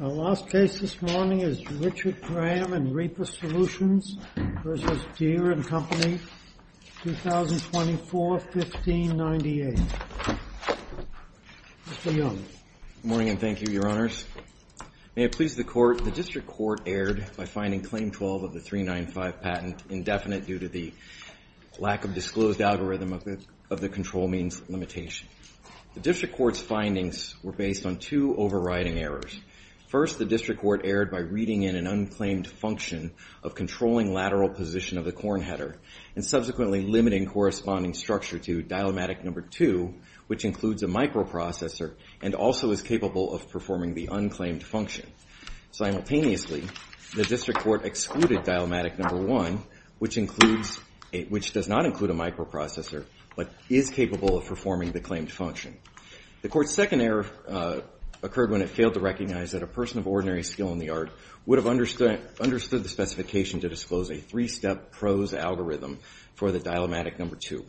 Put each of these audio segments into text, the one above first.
Our last case this morning is Richard Graham v. Reaper Solutions v. Deere & Company, 2024-1598. Mr. Young. Good morning and thank you, Your Honors. May it please the Court, the District Court erred by finding Claim 12 of the 395 patent indefinite due to the lack of disclosed algorithm of the control means limitation. The District Court's findings were based on two overriding errors. First, the District Court erred by reading in an unclaimed function of controlling lateral position of the corn header and subsequently limiting corresponding structure to Dilematic No. 2, which includes a microprocessor and also is capable of performing the unclaimed function. Simultaneously, the District Court excluded Dilematic No. 1, which does not include a microprocessor but is capable of performing the claimed function. The Court's second error occurred when it failed to recognize that a person of ordinary skill in the art would have understood the specification to disclose a three-step prose algorithm for the Dilematic No. 2.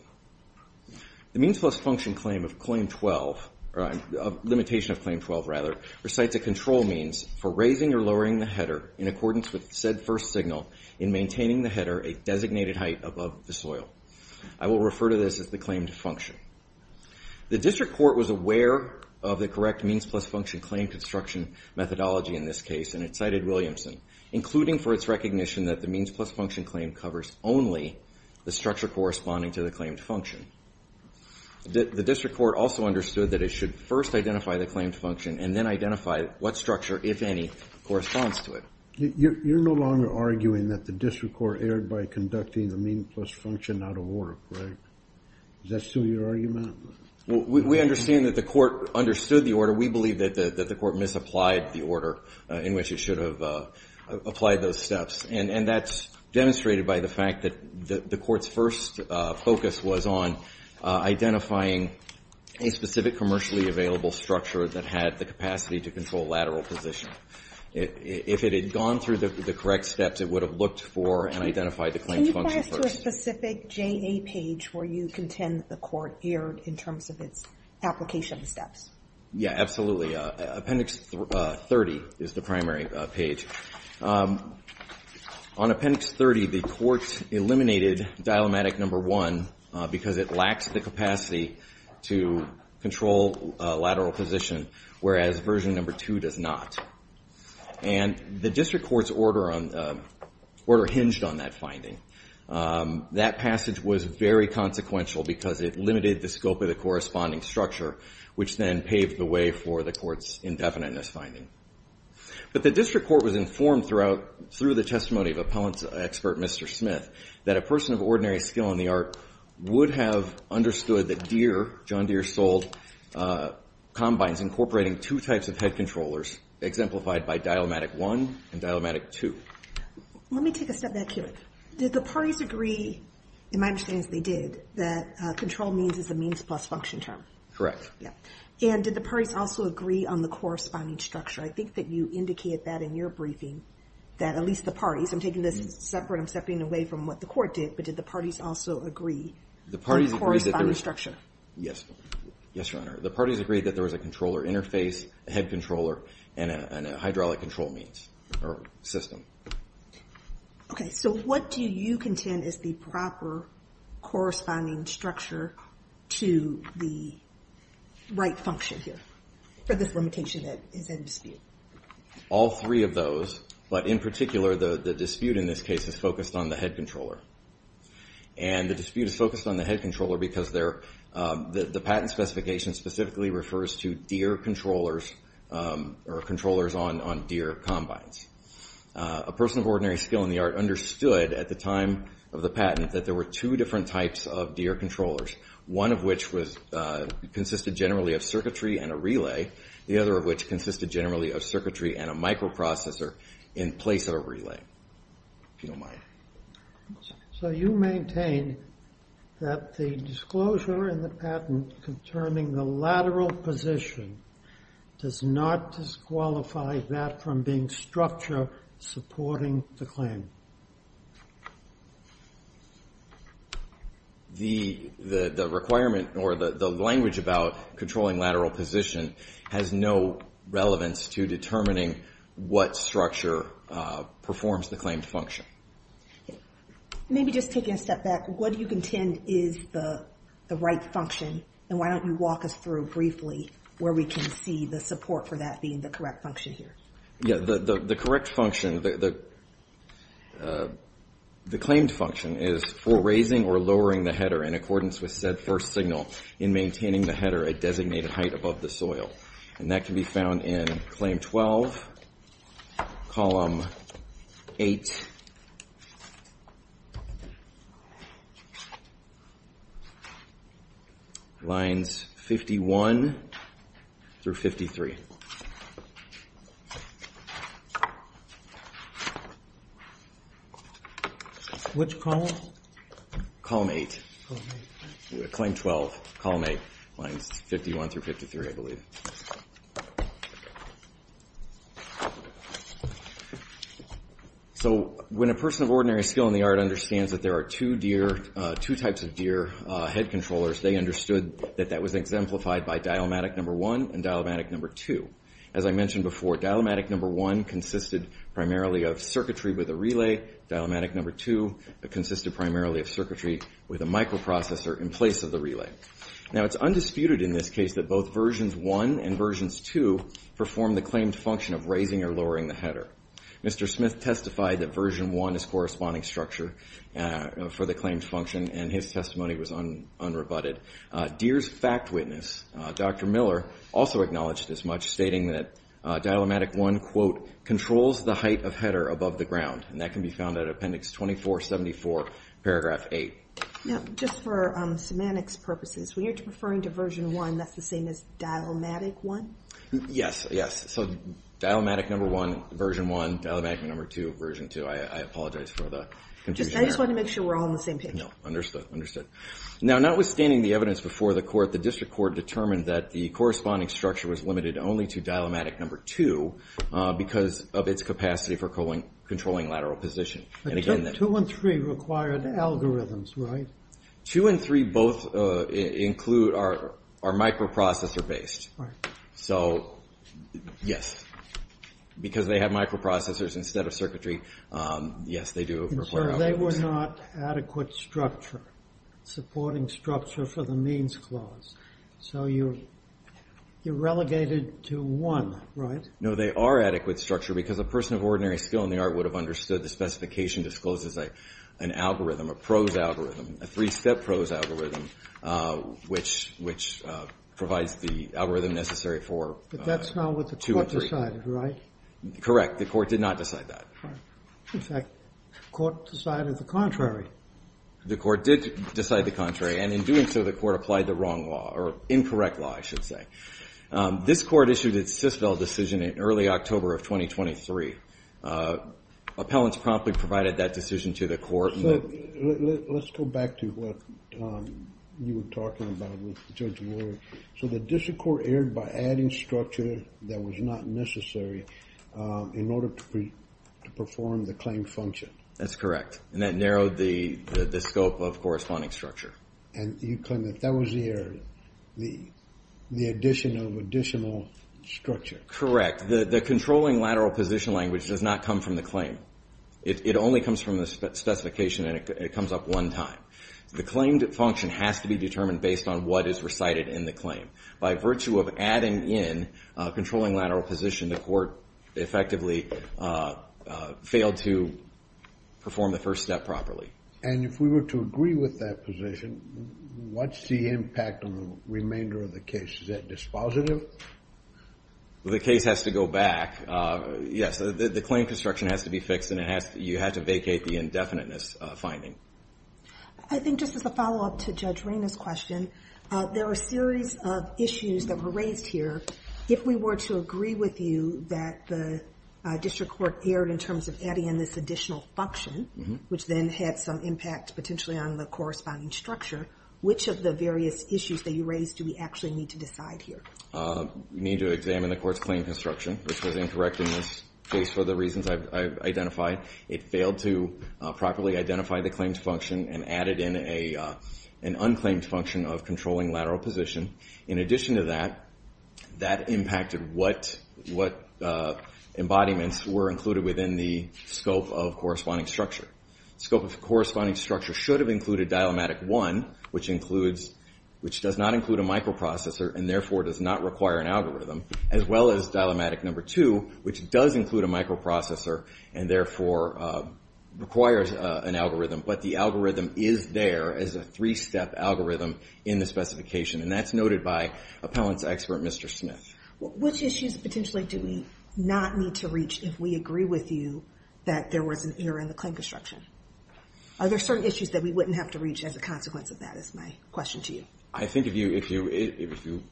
The means plus function claim of Claim 12, or limitation of Claim 12 rather, recites a control means for raising or lowering the header in accordance with said first signal in maintaining the header a designated height above the soil. I will refer to this as the claimed function. The District Court was aware of the correct means plus function claim construction methodology in this case, and it cited Williamson, including for its recognition that the means plus function claim covers only the structure corresponding to the claimed function. The District Court also understood that it should first identify the claimed function and then identify what structure, if any, corresponds to it. You're no longer arguing that the District Court erred by conducting the means plus function out of order, correct? Is that still your argument? We understand that the Court understood the order. We believe that the Court misapplied the order in which it should have applied those steps, and that's demonstrated by the fact that the Court's first focus was on identifying a specific commercially available structure that had the capacity to control lateral position. If it had gone through the correct steps, it would have looked for and identified the claims function first. Go to a specific JA page where you contend that the Court erred in terms of its application steps. Yeah, absolutely. Appendix 30 is the primary page. On Appendix 30, the Court eliminated Dilematic No. 1 because it lacks the capacity to control lateral position, whereas Version No. 2 does not. And the District Court's order hinged on that finding. That passage was very consequential because it limited the scope of the corresponding structure, which then paved the way for the Court's indefiniteness finding. But the District Court was informed through the testimony of appellant expert Mr. Smith that a person of ordinary skill in the art would have understood that Deere, John Deere sold combines incorporating two types of head controllers, exemplified by Dilematic No. 1 and Dilematic No. 2. Let me take a step back here. Did the parties agree, in my understanding they did, that control means is a means plus function term? Correct. Yeah. And did the parties also agree on the corresponding structure? I think that you indicated that in your briefing, that at least the parties, I'm taking this separate, I'm stepping away from what the Court did, but did the parties also agree on the corresponding structure? Yes. Yes, Your Honor. The parties agreed that there was a controller interface, a head controller, and a hydraulic control means or system. Okay. So what do you contend is the proper corresponding structure to the right function here for this limitation that is in dispute? All three of those, but in particular, the dispute in this case is focused on the head controller. And the dispute is focused on the head controller because the patent specification specifically refers to deer controllers or controllers on deer combines. A person of ordinary skill in the art understood at the time of the patent that there were two different types of deer controllers, one of which consisted generally of circuitry and a relay, the other of which consisted generally of circuitry and a microprocessor in place of a relay. If you don't mind. So you maintain that the disclosure in the patent concerning the lateral position does not disqualify that from being structure supporting the claim? The requirement or the language about controlling lateral position has no relevance to determining what structure performs the claimed function. Maybe just taking a step back, what do you contend is the right function? And why don't you walk us through briefly where we can see the support for that being the correct function here? Yeah. The correct function, the claimed function is for raising or lowering the header in accordance with said first signal in maintaining the header at designated height above the soil. And that can be found in Claim 12, Column 8, Lines 51 through 53. Which column? Column 8. Claim 12, Column 8, Lines 51 through 53, I believe. So when a person of ordinary skill in the art understands that there are two types of deer head controllers, they understood that that was exemplified by dielmatic number one and dielmatic number two. As I mentioned before, dielmatic number one consisted primarily of circuitry with a relay. Dielmatic number two consisted primarily of circuitry with a microprocessor in place of the relay. Now, it's undisputed in this case that both versions one and versions two perform the claimed function of raising or lowering the header. Mr. Smith testified that version one is corresponding structure for the claimed function, and his testimony was unrebutted. Deer's fact witness, Dr. Miller, also acknowledged this much, stating that dielmatic one, quote, controls the height of header above the ground. And that can be found at Appendix 2474, Paragraph 8. Now, just for semantics purposes, when you're referring to version one, that's the same as dielmatic one? Yes, yes. So dielmatic number one, version one, dielmatic number two, version two. I apologize for the confusion there. I just wanted to make sure we're all on the same page. No, understood, understood. Now, notwithstanding the evidence before the court, the district court determined that the corresponding structure was limited only to dielmatic number two because of its capacity for controlling lateral position. But two and three required algorithms, right? Two and three both include our microprocessor-based. Right. So, yes, because they have microprocessors instead of circuitry, yes, they do require algorithms. They were not adequate structure, supporting structure for the means clause. So you relegated to one, right? No, they are adequate structure because a person of ordinary skill in the art would have understood the specification disclosed as an algorithm, a prose algorithm, a three-step prose algorithm, which provides the algorithm necessary for two and three. But that's not what the court decided, right? Correct. The court did not decide that. In fact, the court decided the contrary. The court did decide the contrary, and in doing so, the court applied the wrong law or incorrect law, I should say. This court issued its SysVel decision in early October of 2023. Appellants promptly provided that decision to the court. Let's go back to what you were talking about with Judge Moore. So the district court erred by adding structure that was not necessary in order to perform the claim function. That's correct, and that narrowed the scope of corresponding structure. And you claim that that was the error. The addition of additional structure. The controlling lateral position language does not come from the claim. It only comes from the specification, and it comes up one time. The claim function has to be determined based on what is recited in the claim. By virtue of adding in controlling lateral position, the court effectively failed to perform the first step properly. And if we were to agree with that position, what's the impact on the remainder of the case? Is that dispositive? The case has to go back. Yes, the claim construction has to be fixed, and you have to vacate the indefiniteness finding. I think just as a follow-up to Judge Rayna's question, there are a series of issues that were raised here. If we were to agree with you that the district court erred in terms of adding in this additional function, which then had some impact potentially on the corresponding structure, which of the various issues that you raised do we actually need to decide here? We need to examine the court's claim construction, which was incorrect in this case for the reasons I've identified. It failed to properly identify the claims function and added in an unclaimed function of controlling lateral position. In addition to that, that impacted what embodiments were included within the scope of corresponding structure. Scope of corresponding structure should have included dilemmatic one, which does not include a microprocessor and therefore does not require an algorithm, as well as dilemmatic number two, which does include a microprocessor and therefore requires an algorithm. But the algorithm is there as a three-step algorithm in the specification, and that's noted by appellant's expert, Mr. Smith. Which issues potentially do we not need to reach if we agree with you that there was an error in the claim construction? Are there certain issues that we wouldn't have to reach as a consequence of that is my question to you. I think if you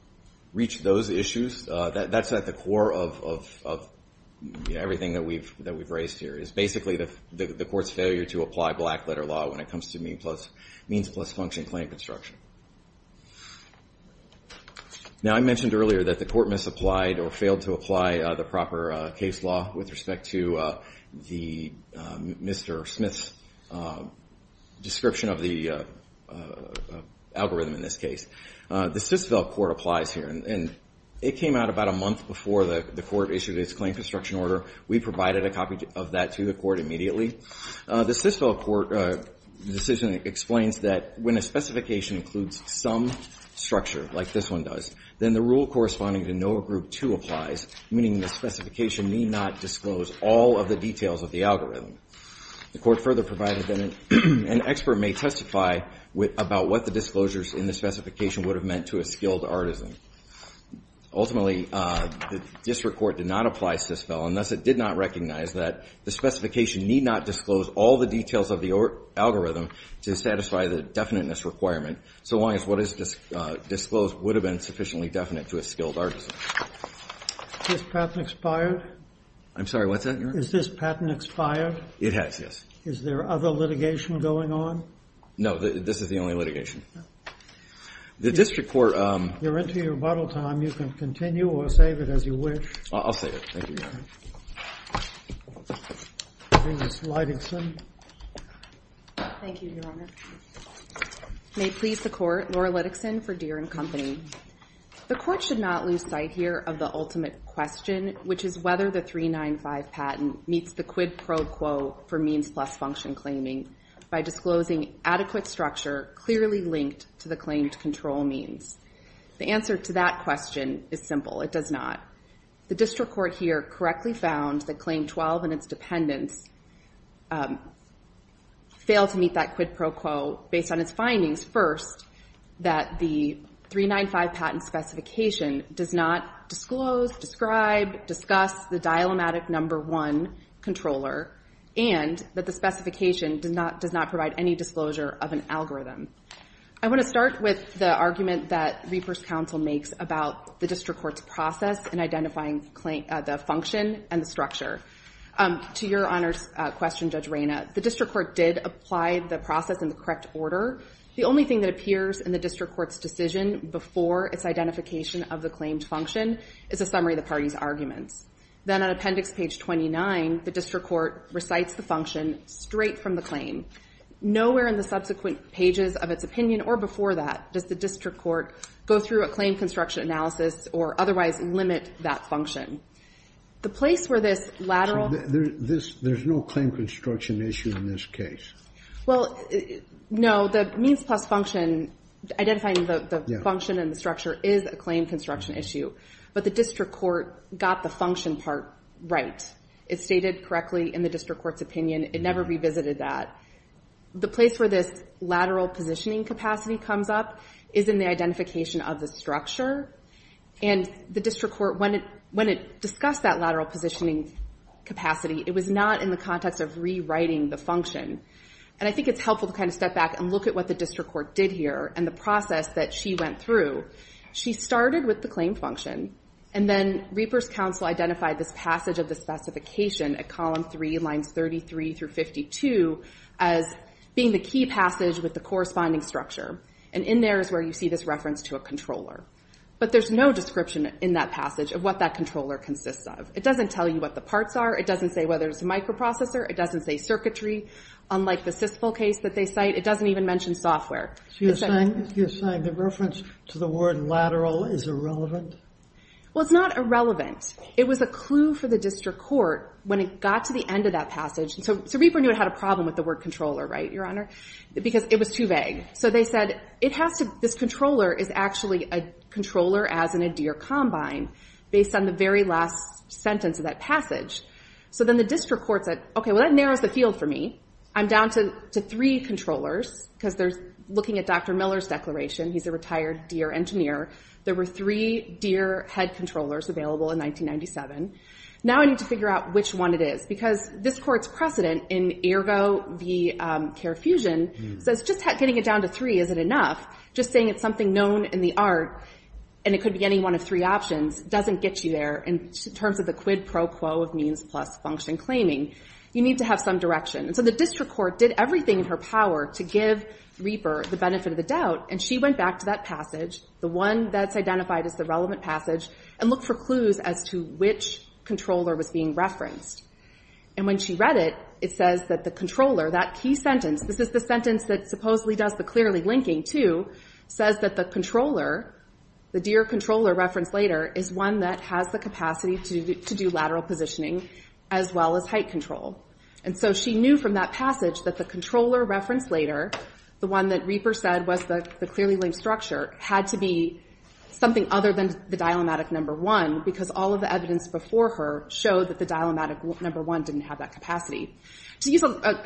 reach those issues, that's at the core of everything that we've raised here, is basically the court's failure to apply black-letter law when it comes to means-plus-function claim construction. Now I mentioned earlier that the court misapplied or failed to apply the proper case law with respect to Mr. Smith's description of the algorithm in this case. The SysVel court applies here, and it came out about a month before the court issued its claim construction order. We provided a copy of that to the court immediately. The SysVel court decision explains that when a specification includes some structure, like this one does, then the rule corresponding to NOAA Group 2 applies, meaning the specification need not disclose all of the details of the algorithm. The court further provided that an expert may testify about what the disclosures in the specification would have meant to a skilled artisan. Ultimately, the district court did not apply SysVel, and thus it did not recognize that the specification need not disclose all the details of the algorithm to satisfy the definiteness requirement, so long as what is disclosed would have been sufficiently definite to a skilled artisan. Is this patent expired? I'm sorry, what's that, Your Honor? Is this patent expired? It has, yes. Is there other litigation going on? No, this is the only litigation. The district court... You're into your rebuttal time. You can continue or save it as you wish. I'll save it. Thank you, Your Honor. Ms. Liddickson. Thank you, Your Honor. May it please the Court, Laura Liddickson for Deere and Company. The Court should not lose sight here of the ultimate question, which is whether the 395 patent meets the quid pro quo for means plus function claiming by disclosing adequate structure clearly linked to the claimed control means. The answer to that question is simple. It does not. The district court here correctly found that Claim 12 and its dependents fail to meet that quid pro quo based on its findings, first, that the 395 patent specification does not disclose, describe, discuss the dilemmatic number one controller and that the specification does not provide any disclosure of an algorithm. I want to start with the argument that Reapers Counsel makes about the district court's process in identifying the function and the structure. To Your Honor's question, Judge Reyna, the district court did apply the process in the correct order. The only thing that appears in the district court's decision before its identification of the claimed function is a summary of the party's arguments. Then on appendix page 29, the district court recites the function straight from the claim. Nowhere in the subsequent pages of its opinion or before that does the district court go through a claim construction analysis or otherwise limit that function. The place where this lateral... There's no claim construction issue in this case. Well, no. The means plus function, identifying the function and the structure is a claim construction issue. But the district court got the function part right. It's stated correctly in the district court's opinion. It never revisited that. The place where this lateral positioning capacity comes up is in the identification of the structure. And the district court, when it discussed that lateral positioning capacity, it was not in the context of rewriting the function. And I think it's helpful to kind of step back and look at what the district court did here and the process that she went through. She started with the claim function, and then Reapers Counsel identified this passage of the specification at column 3, lines 33 through 52 as being the key passage with the corresponding structure. And in there is where you see this reference to a controller. But there's no description in that passage of what that controller consists of. It doesn't tell you what the parts are. It doesn't say whether it's a microprocessor. It doesn't say circuitry, unlike the CISFL case that they cite. It doesn't even mention software. You're saying the reference to the word lateral is irrelevant? Well, it's not irrelevant. It was a clue for the district court when it got to the end of that passage. So Reaper knew it had a problem with the word controller, right, Your Honor? Because it was too vague. So they said this controller is actually a controller as in a deer combine based on the very last sentence of that passage. So then the district court said, okay, well, that narrows the field for me. I'm down to three controllers because they're looking at Dr. Miller's declaration. He's a retired deer engineer. There were three deer head controllers available in 1997. Now I need to figure out which one it is because this court's precedent in Ergo v. Carefusion says just getting it down to three isn't enough. Just saying it's something known in the art and it could be any one of three options doesn't get you there in terms of the quid pro quo of means plus function claiming. You need to have some direction. So the district court did everything in her power to give Reaper the benefit of the doubt, and she went back to that passage, the one that's identified as the relevant passage, and looked for clues as to which controller was being referenced. And when she read it, it says that the controller, that key sentence, this is the sentence that supposedly does the clearly linking too, says that the controller, the deer controller referenced later, is one that has the capacity to do lateral positioning as well as height control. And so she knew from that passage that the controller referenced later, the one that Reaper said was the clearly linked structure, had to be something other than the dilemmatic number one because all of the evidence before her showed that the dilemmatic number one didn't have that capacity. But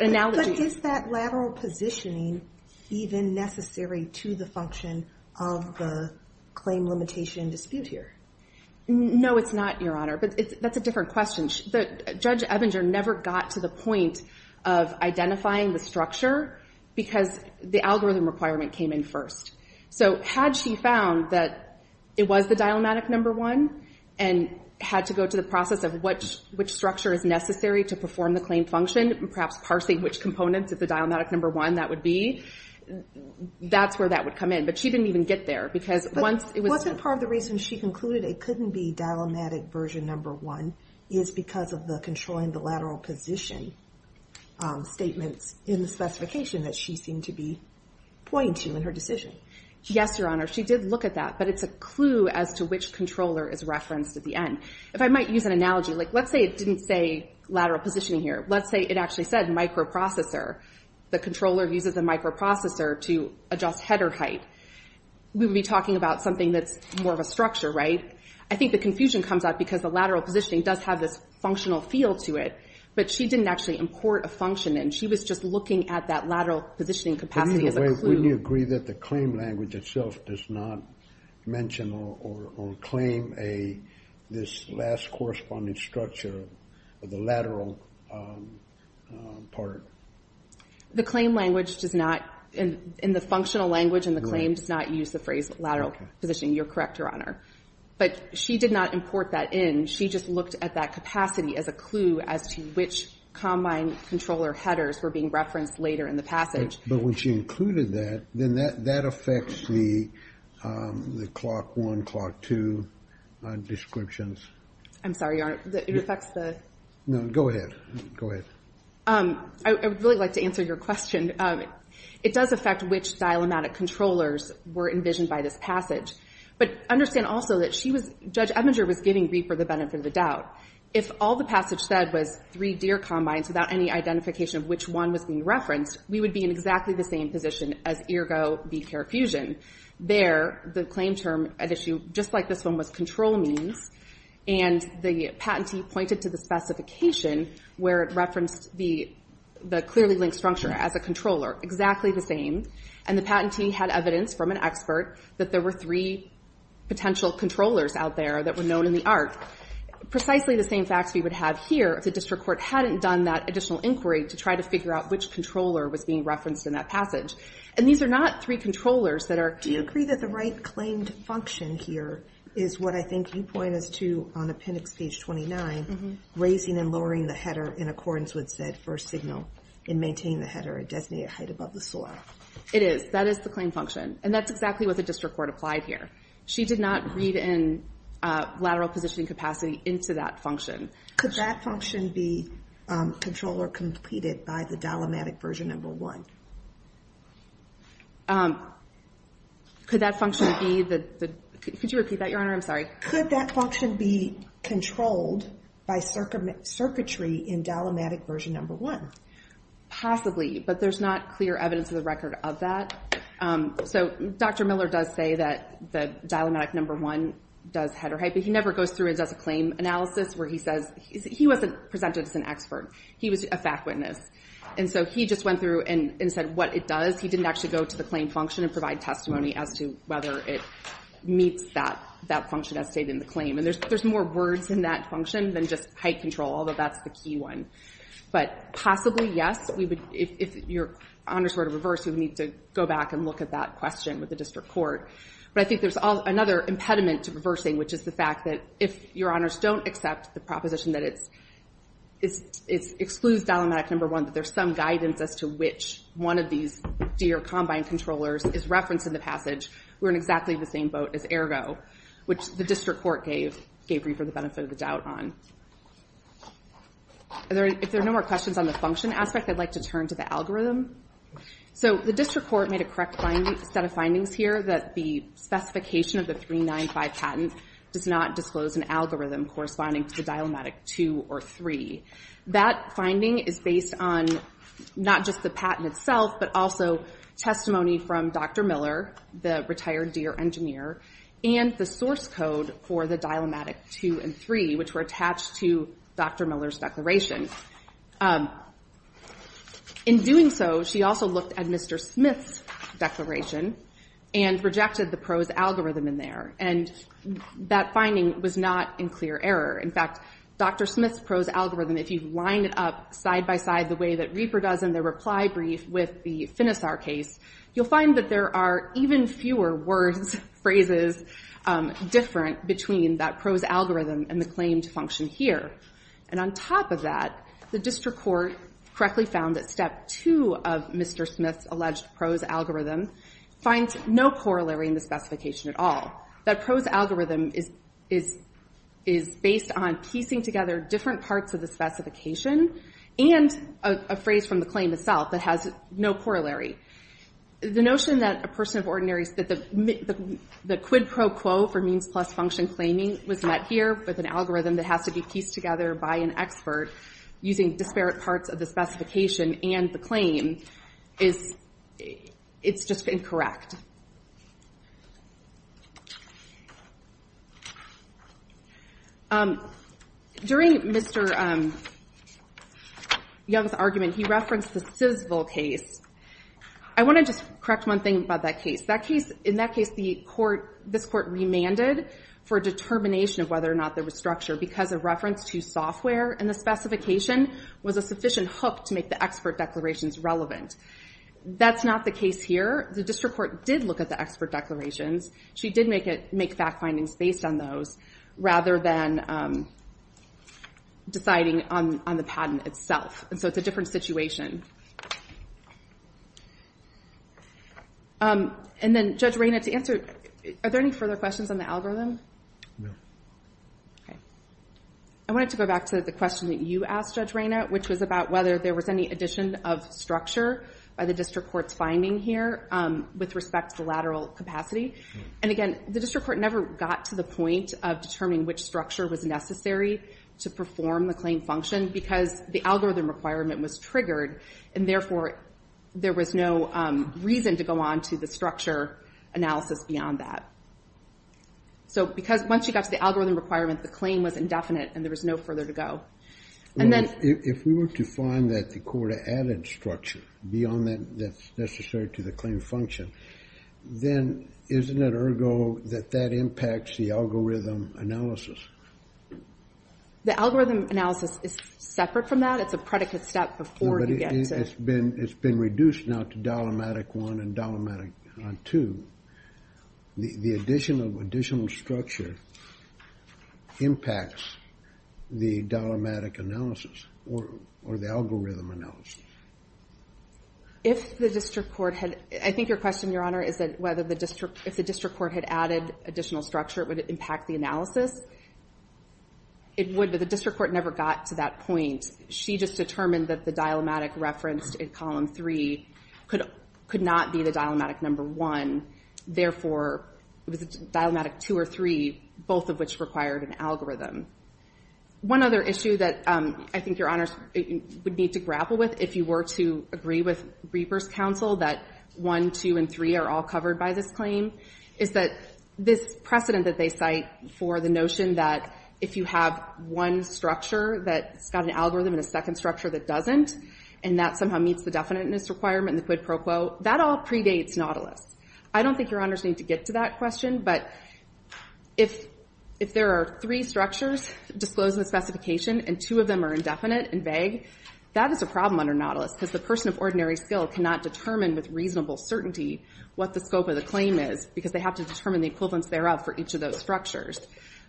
is that lateral positioning even necessary to the function of the claim limitation dispute here? No, it's not, Your Honor, but that's a different question. Judge Ebinger never got to the point of identifying the structure because the algorithm requirement came in first. So had she found that it was the dilemmatic number one and had to go to the process of which structure is necessary to perform the claim function, perhaps parsing which components of the dilemmatic number one that would be, that's where that would come in. But she didn't even get there because once it was... Wasn't part of the reason she concluded it couldn't be dilemmatic version number one is because of the controlling the lateral position statements in the specification that she seemed to be pointing to in her decision? Yes, Your Honor, she did look at that, but it's a clue as to which controller is referenced at the end. If I might use an analogy, like let's say it didn't say lateral positioning here. Let's say it actually said microprocessor. The controller uses the microprocessor to adjust header height. We would be talking about something that's more of a structure, right? I think the confusion comes up because the lateral positioning does have this functional feel to it, but she didn't actually import a function in. She was just looking at that lateral positioning capacity as a clue. Wouldn't you agree that the claim language itself does not mention or claim this last corresponding structure of the lateral part? The claim language does not... In the functional language in the claim does not use the phrase lateral positioning. You're correct, Your Honor. But she did not import that in. She just looked at that capacity as a clue as to which combine controller headers were being referenced later in the passage. But when she included that, then that affects the clock one, clock two descriptions. I'm sorry, Your Honor. It affects the... No, go ahead. Go ahead. I would really like to answer your question. It does affect which dialematic controllers were envisioned by this passage. But understand also that she was... Judge Ebinger was giving Reaper the benefit of the doubt. If all the passage said was three deer combines without any identification of which one was being referenced, we would be in exactly the same position as ergo be carefusion. There, the claim term at issue, just like this one, was control means. And the patentee pointed to the specification where it referenced the clearly linked structure as a controller, exactly the same. And the patentee had evidence from an expert that there were three potential controllers out there that were known in the art. Precisely the same facts we would have here if the district court hadn't done that additional inquiry to try to figure out which controller was being referenced in that passage. And these are not three controllers that are... Do you agree that the right claimed function here is what I think you point us to on appendix page 29, raising and lowering the header in accordance with said first signal and maintaining the header at designated height above the soil? It is. That is the claim function. And that's exactly what the district court applied here. She did not read in lateral positioning capacity into that function. Could that function be controlled or completed by the dilemmatic version number one? Could that function be the... Could you repeat that, Your Honor? I'm sorry. Could that function be controlled by circuitry in dilemmatic version number one? Possibly, but there's not clear evidence of the record of that. So Dr. Miller does say that the dilemmatic number one does header height, but he never goes through and does a claim analysis where he says... He wasn't presented as an expert. He was a fact witness. And so he just went through and said what it does. He didn't actually go to the claim function and provide testimony as to whether it meets that function as stated in the claim. And there's more words in that function than just height control, although that's the key one. But possibly, yes, we would... If Your Honors were to reverse, we would need to go back and look at that question with the district court. But I think there's another impediment to reversing, which is the fact that if Your Honors don't accept the proposition that it's... It excludes dilemmatic number one, that there's some guidance as to which one of these deer combine controllers is referenced in the passage, we're in exactly the same boat as ergo, which the district court gave reaper the benefit of the doubt on. If there are no more questions on the function aspect, I'd like to turn to the algorithm. So the district court made a correct set of findings here that the specification of the 395 patent does not disclose an algorithm corresponding to the dilemmatic two or three. That finding is based on not just the patent itself, but also testimony from Dr. Miller, the retired deer engineer, and the source code for the dilemmatic two and three, which were attached to Dr. Miller's declaration. In doing so, she also looked at Mr. Smith's declaration, and rejected the prose algorithm in there. And that finding was not in clear error. In fact, Dr. Smith's prose algorithm, if you line it up side by side the way that Reaper does in the reply brief with the Finisar case, you'll find that there are even fewer words, phrases, different between that prose algorithm and the claimed function here. And on top of that, the district court correctly found that step two of Mr. Smith's alleged prose algorithm finds no corollary in the specification at all. That prose algorithm is based on piecing together different parts of the specification, and a phrase from the claim itself that has no corollary. The notion that the quid pro quo for means plus function claiming was met here with an algorithm that has to be pieced together by an expert using disparate parts of the specification and the claim, it's just incorrect. During Mr. Young's argument, he referenced the Sisville case. I want to just correct one thing about that case. In that case, this court remanded for determination of whether or not there was structure because a reference to software in the specification was a sufficient hook to make the expert declarations relevant. That's not the case here. The district court did look at the expert declarations. She did make fact findings based on those rather than deciding on the patent itself. So it's a different situation. And then, Judge Reyna, to answer, are there any further questions on the algorithm? No. Okay. I wanted to go back to the question that you asked, Judge Reyna, which was about whether there was any addition of structure by the district court's finding here with respect to the lateral capacity. And again, the district court never got to the point of determining which structure was necessary to perform the claim function because the algorithm requirement was triggered, and therefore, there was no reason to go on to the structure analysis beyond that. So once you got to the algorithm requirement, the claim was indefinite, and there was no further to go. If we were to find that the court added structure beyond that's necessary to the claim function, then isn't it ergo that that impacts the algorithm analysis? The algorithm analysis is separate from that. It's a predicate step before you get to... But it's been reduced now to dilemmatic one and dilemmatic two. The addition of additional structure impacts the dilemmatic analysis or the algorithm analysis. If the district court had... I think your question, Your Honor, is that if the district court had added additional structure, would it impact the analysis? It would, but the district court never got to that point. She just determined that the dilemmatic referenced in column 3 could not be the dilemmatic number 1. Therefore, it was a dilemmatic 2 or 3, both of which required an algorithm. One other issue that I think Your Honor would need to grapple with if you were to agree with Reber's counsel that 1, 2, and 3 are all covered by this claim is that this precedent that they cite for the notion that if you have one structure that's got an algorithm and a second structure that doesn't, and that somehow meets the definiteness requirement in the quid pro quo, that all predates Nautilus. I don't think Your Honors need to get to that question, but if there are three structures disclosed in the specification and two of them are indefinite and vague, that is a problem under Nautilus because the person of ordinary skill cannot determine with reasonable certainty what the scope of the claim is because they have to determine the equivalence thereof for each of those structures.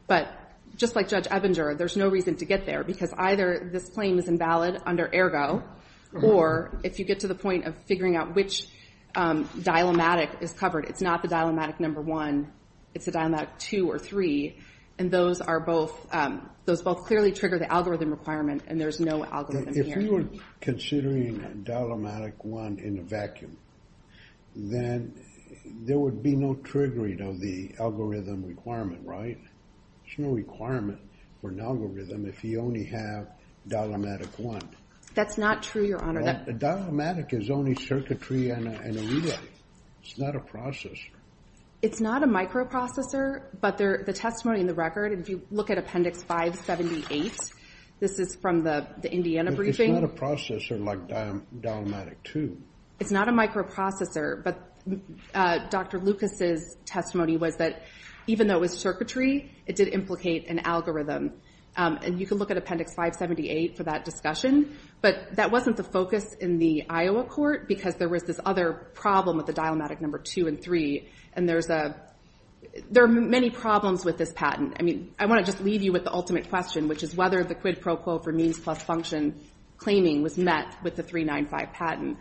But just like Judge Ebinger, there's no reason to get there because either this claim is invalid under ergo or if you get to the point of figuring out which dilemmatic is covered, it's not the dilemmatic number one, it's the dilemmatic two or three, and those both clearly trigger the algorithm requirement and there's no algorithm here. If you were considering a dilemmatic one in a vacuum, then there would be no triggering of the algorithm requirement, right? There's no requirement for an algorithm if you only have dilemmatic one. That's not true, Your Honor. A dilemmatic is only circuitry and a relay. It's not a processor. It's not a microprocessor, but the testimony in the record, if you look at Appendix 578, this is from the Indiana briefing. It's not a processor like dilemmatic two. It's not a microprocessor, but Dr. Lucas' testimony was that even though it was circuitry, it did implicate an algorithm, and you can look at Appendix 578 for that discussion, but that wasn't the focus in the Iowa court because there was this other problem with the dilemmatic number two and three, and there are many problems with this patent. I want to just leave you with the ultimate question, which is whether the quid pro quo for means plus function claiming was met with the 395 patent,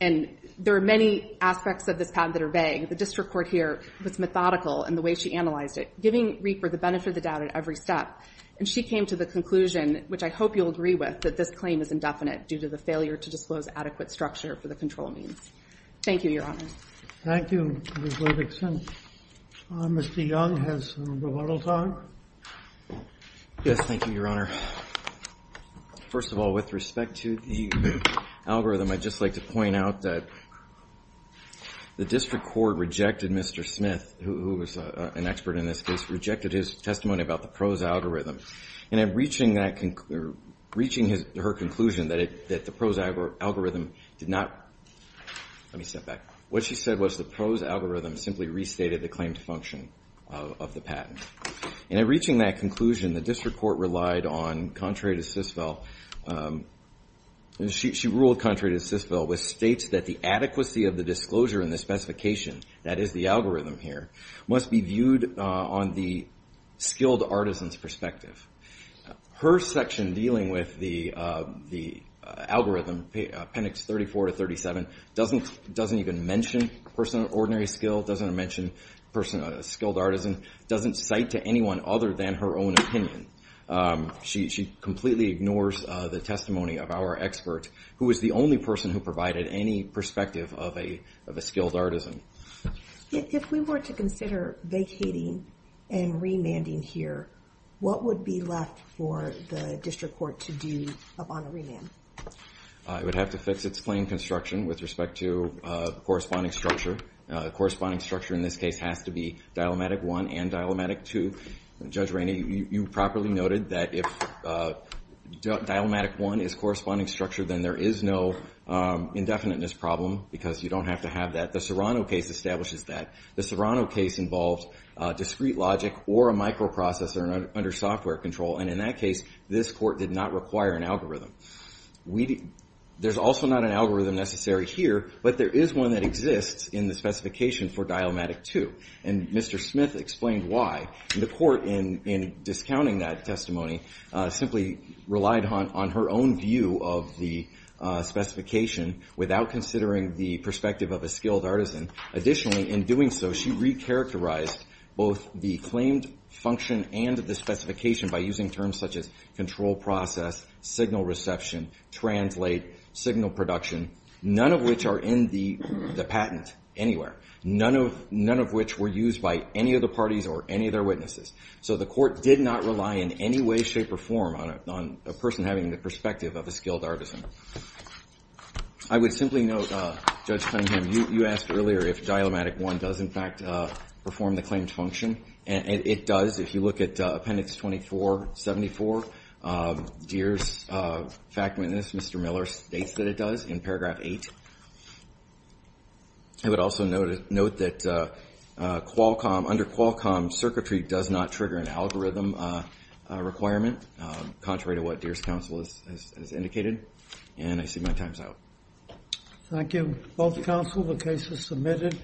and there are many aspects of this patent that are vague. The district court here was methodical in the way she analyzed it, giving Rieper the benefit of the doubt at every step, and she came to the conclusion, which I hope you'll agree with, that this claim is indefinite due to the failure to disclose adequate structure for the control means. Thank you, Your Honor. Thank you, Ms. Levickson. Mr. Young has the model time. Yes, thank you, Your Honor. First of all, with respect to the algorithm, I'd just like to point out that the district court rejected Mr. Smith, who was an expert in this case, rejected his testimony about the prose algorithm, and in reaching her conclusion that the prose algorithm did not... Let me step back. What she said was the prose algorithm simply restated the claimed function of the patent, and in reaching that conclusion, the district court relied on contrary to Sisvel, and she ruled contrary to Sisvel, which states that the adequacy of the disclosure and the specification, that is the algorithm here, must be viewed on the skilled artisan's perspective. Her section dealing with the algorithm, appendix 34 to 37, doesn't even mention ordinary skill, doesn't mention a skilled artisan, doesn't cite to anyone other than her own opinion. She completely ignores the testimony of our expert, who is the only person who provided any perspective of a skilled artisan. If we were to consider vacating and remanding here, what would be left for the district court to do upon a remand? It would have to fix its plain construction with respect to the corresponding structure. The corresponding structure in this case has to be dilemmatic one and dilemmatic two. Judge Rainey, you properly noted that if dilemmatic one is corresponding structure, then there is no indefiniteness problem, because you don't have to have that. The Serrano case establishes that. The Serrano case involved discrete logic or a microprocessor under software control, and in that case, this court did not require an algorithm. There's also not an algorithm necessary here, but there is one that exists in the specification for dilemmatic two, and Mr. Smith explained why. The court, in discounting that testimony, simply relied on her own view of the specification without considering the perspective of a skilled artisan. Additionally, in doing so, she recharacterized both the claimed function and the specification by using terms such as control process, signal reception, translate, signal production, none of which are in the patent anywhere, none of which were used by any of the parties or any of their witnesses. So the court did not rely in any way, shape, or form on a person having the perspective of a skilled artisan. I would simply note, Judge Cunningham, you asked earlier if dilemmatic one does, in fact, perform the claimed function, and it does. If you look at Appendix 2474, Deere's fact witness, Mr. Miller, states that it does in paragraph 8. I would also note that under Qualcomm, circuitry does not trigger an algorithm requirement, contrary to what Deere's counsel has indicated. And I see my time's out. Thank you. Both counsel, the case is submitted.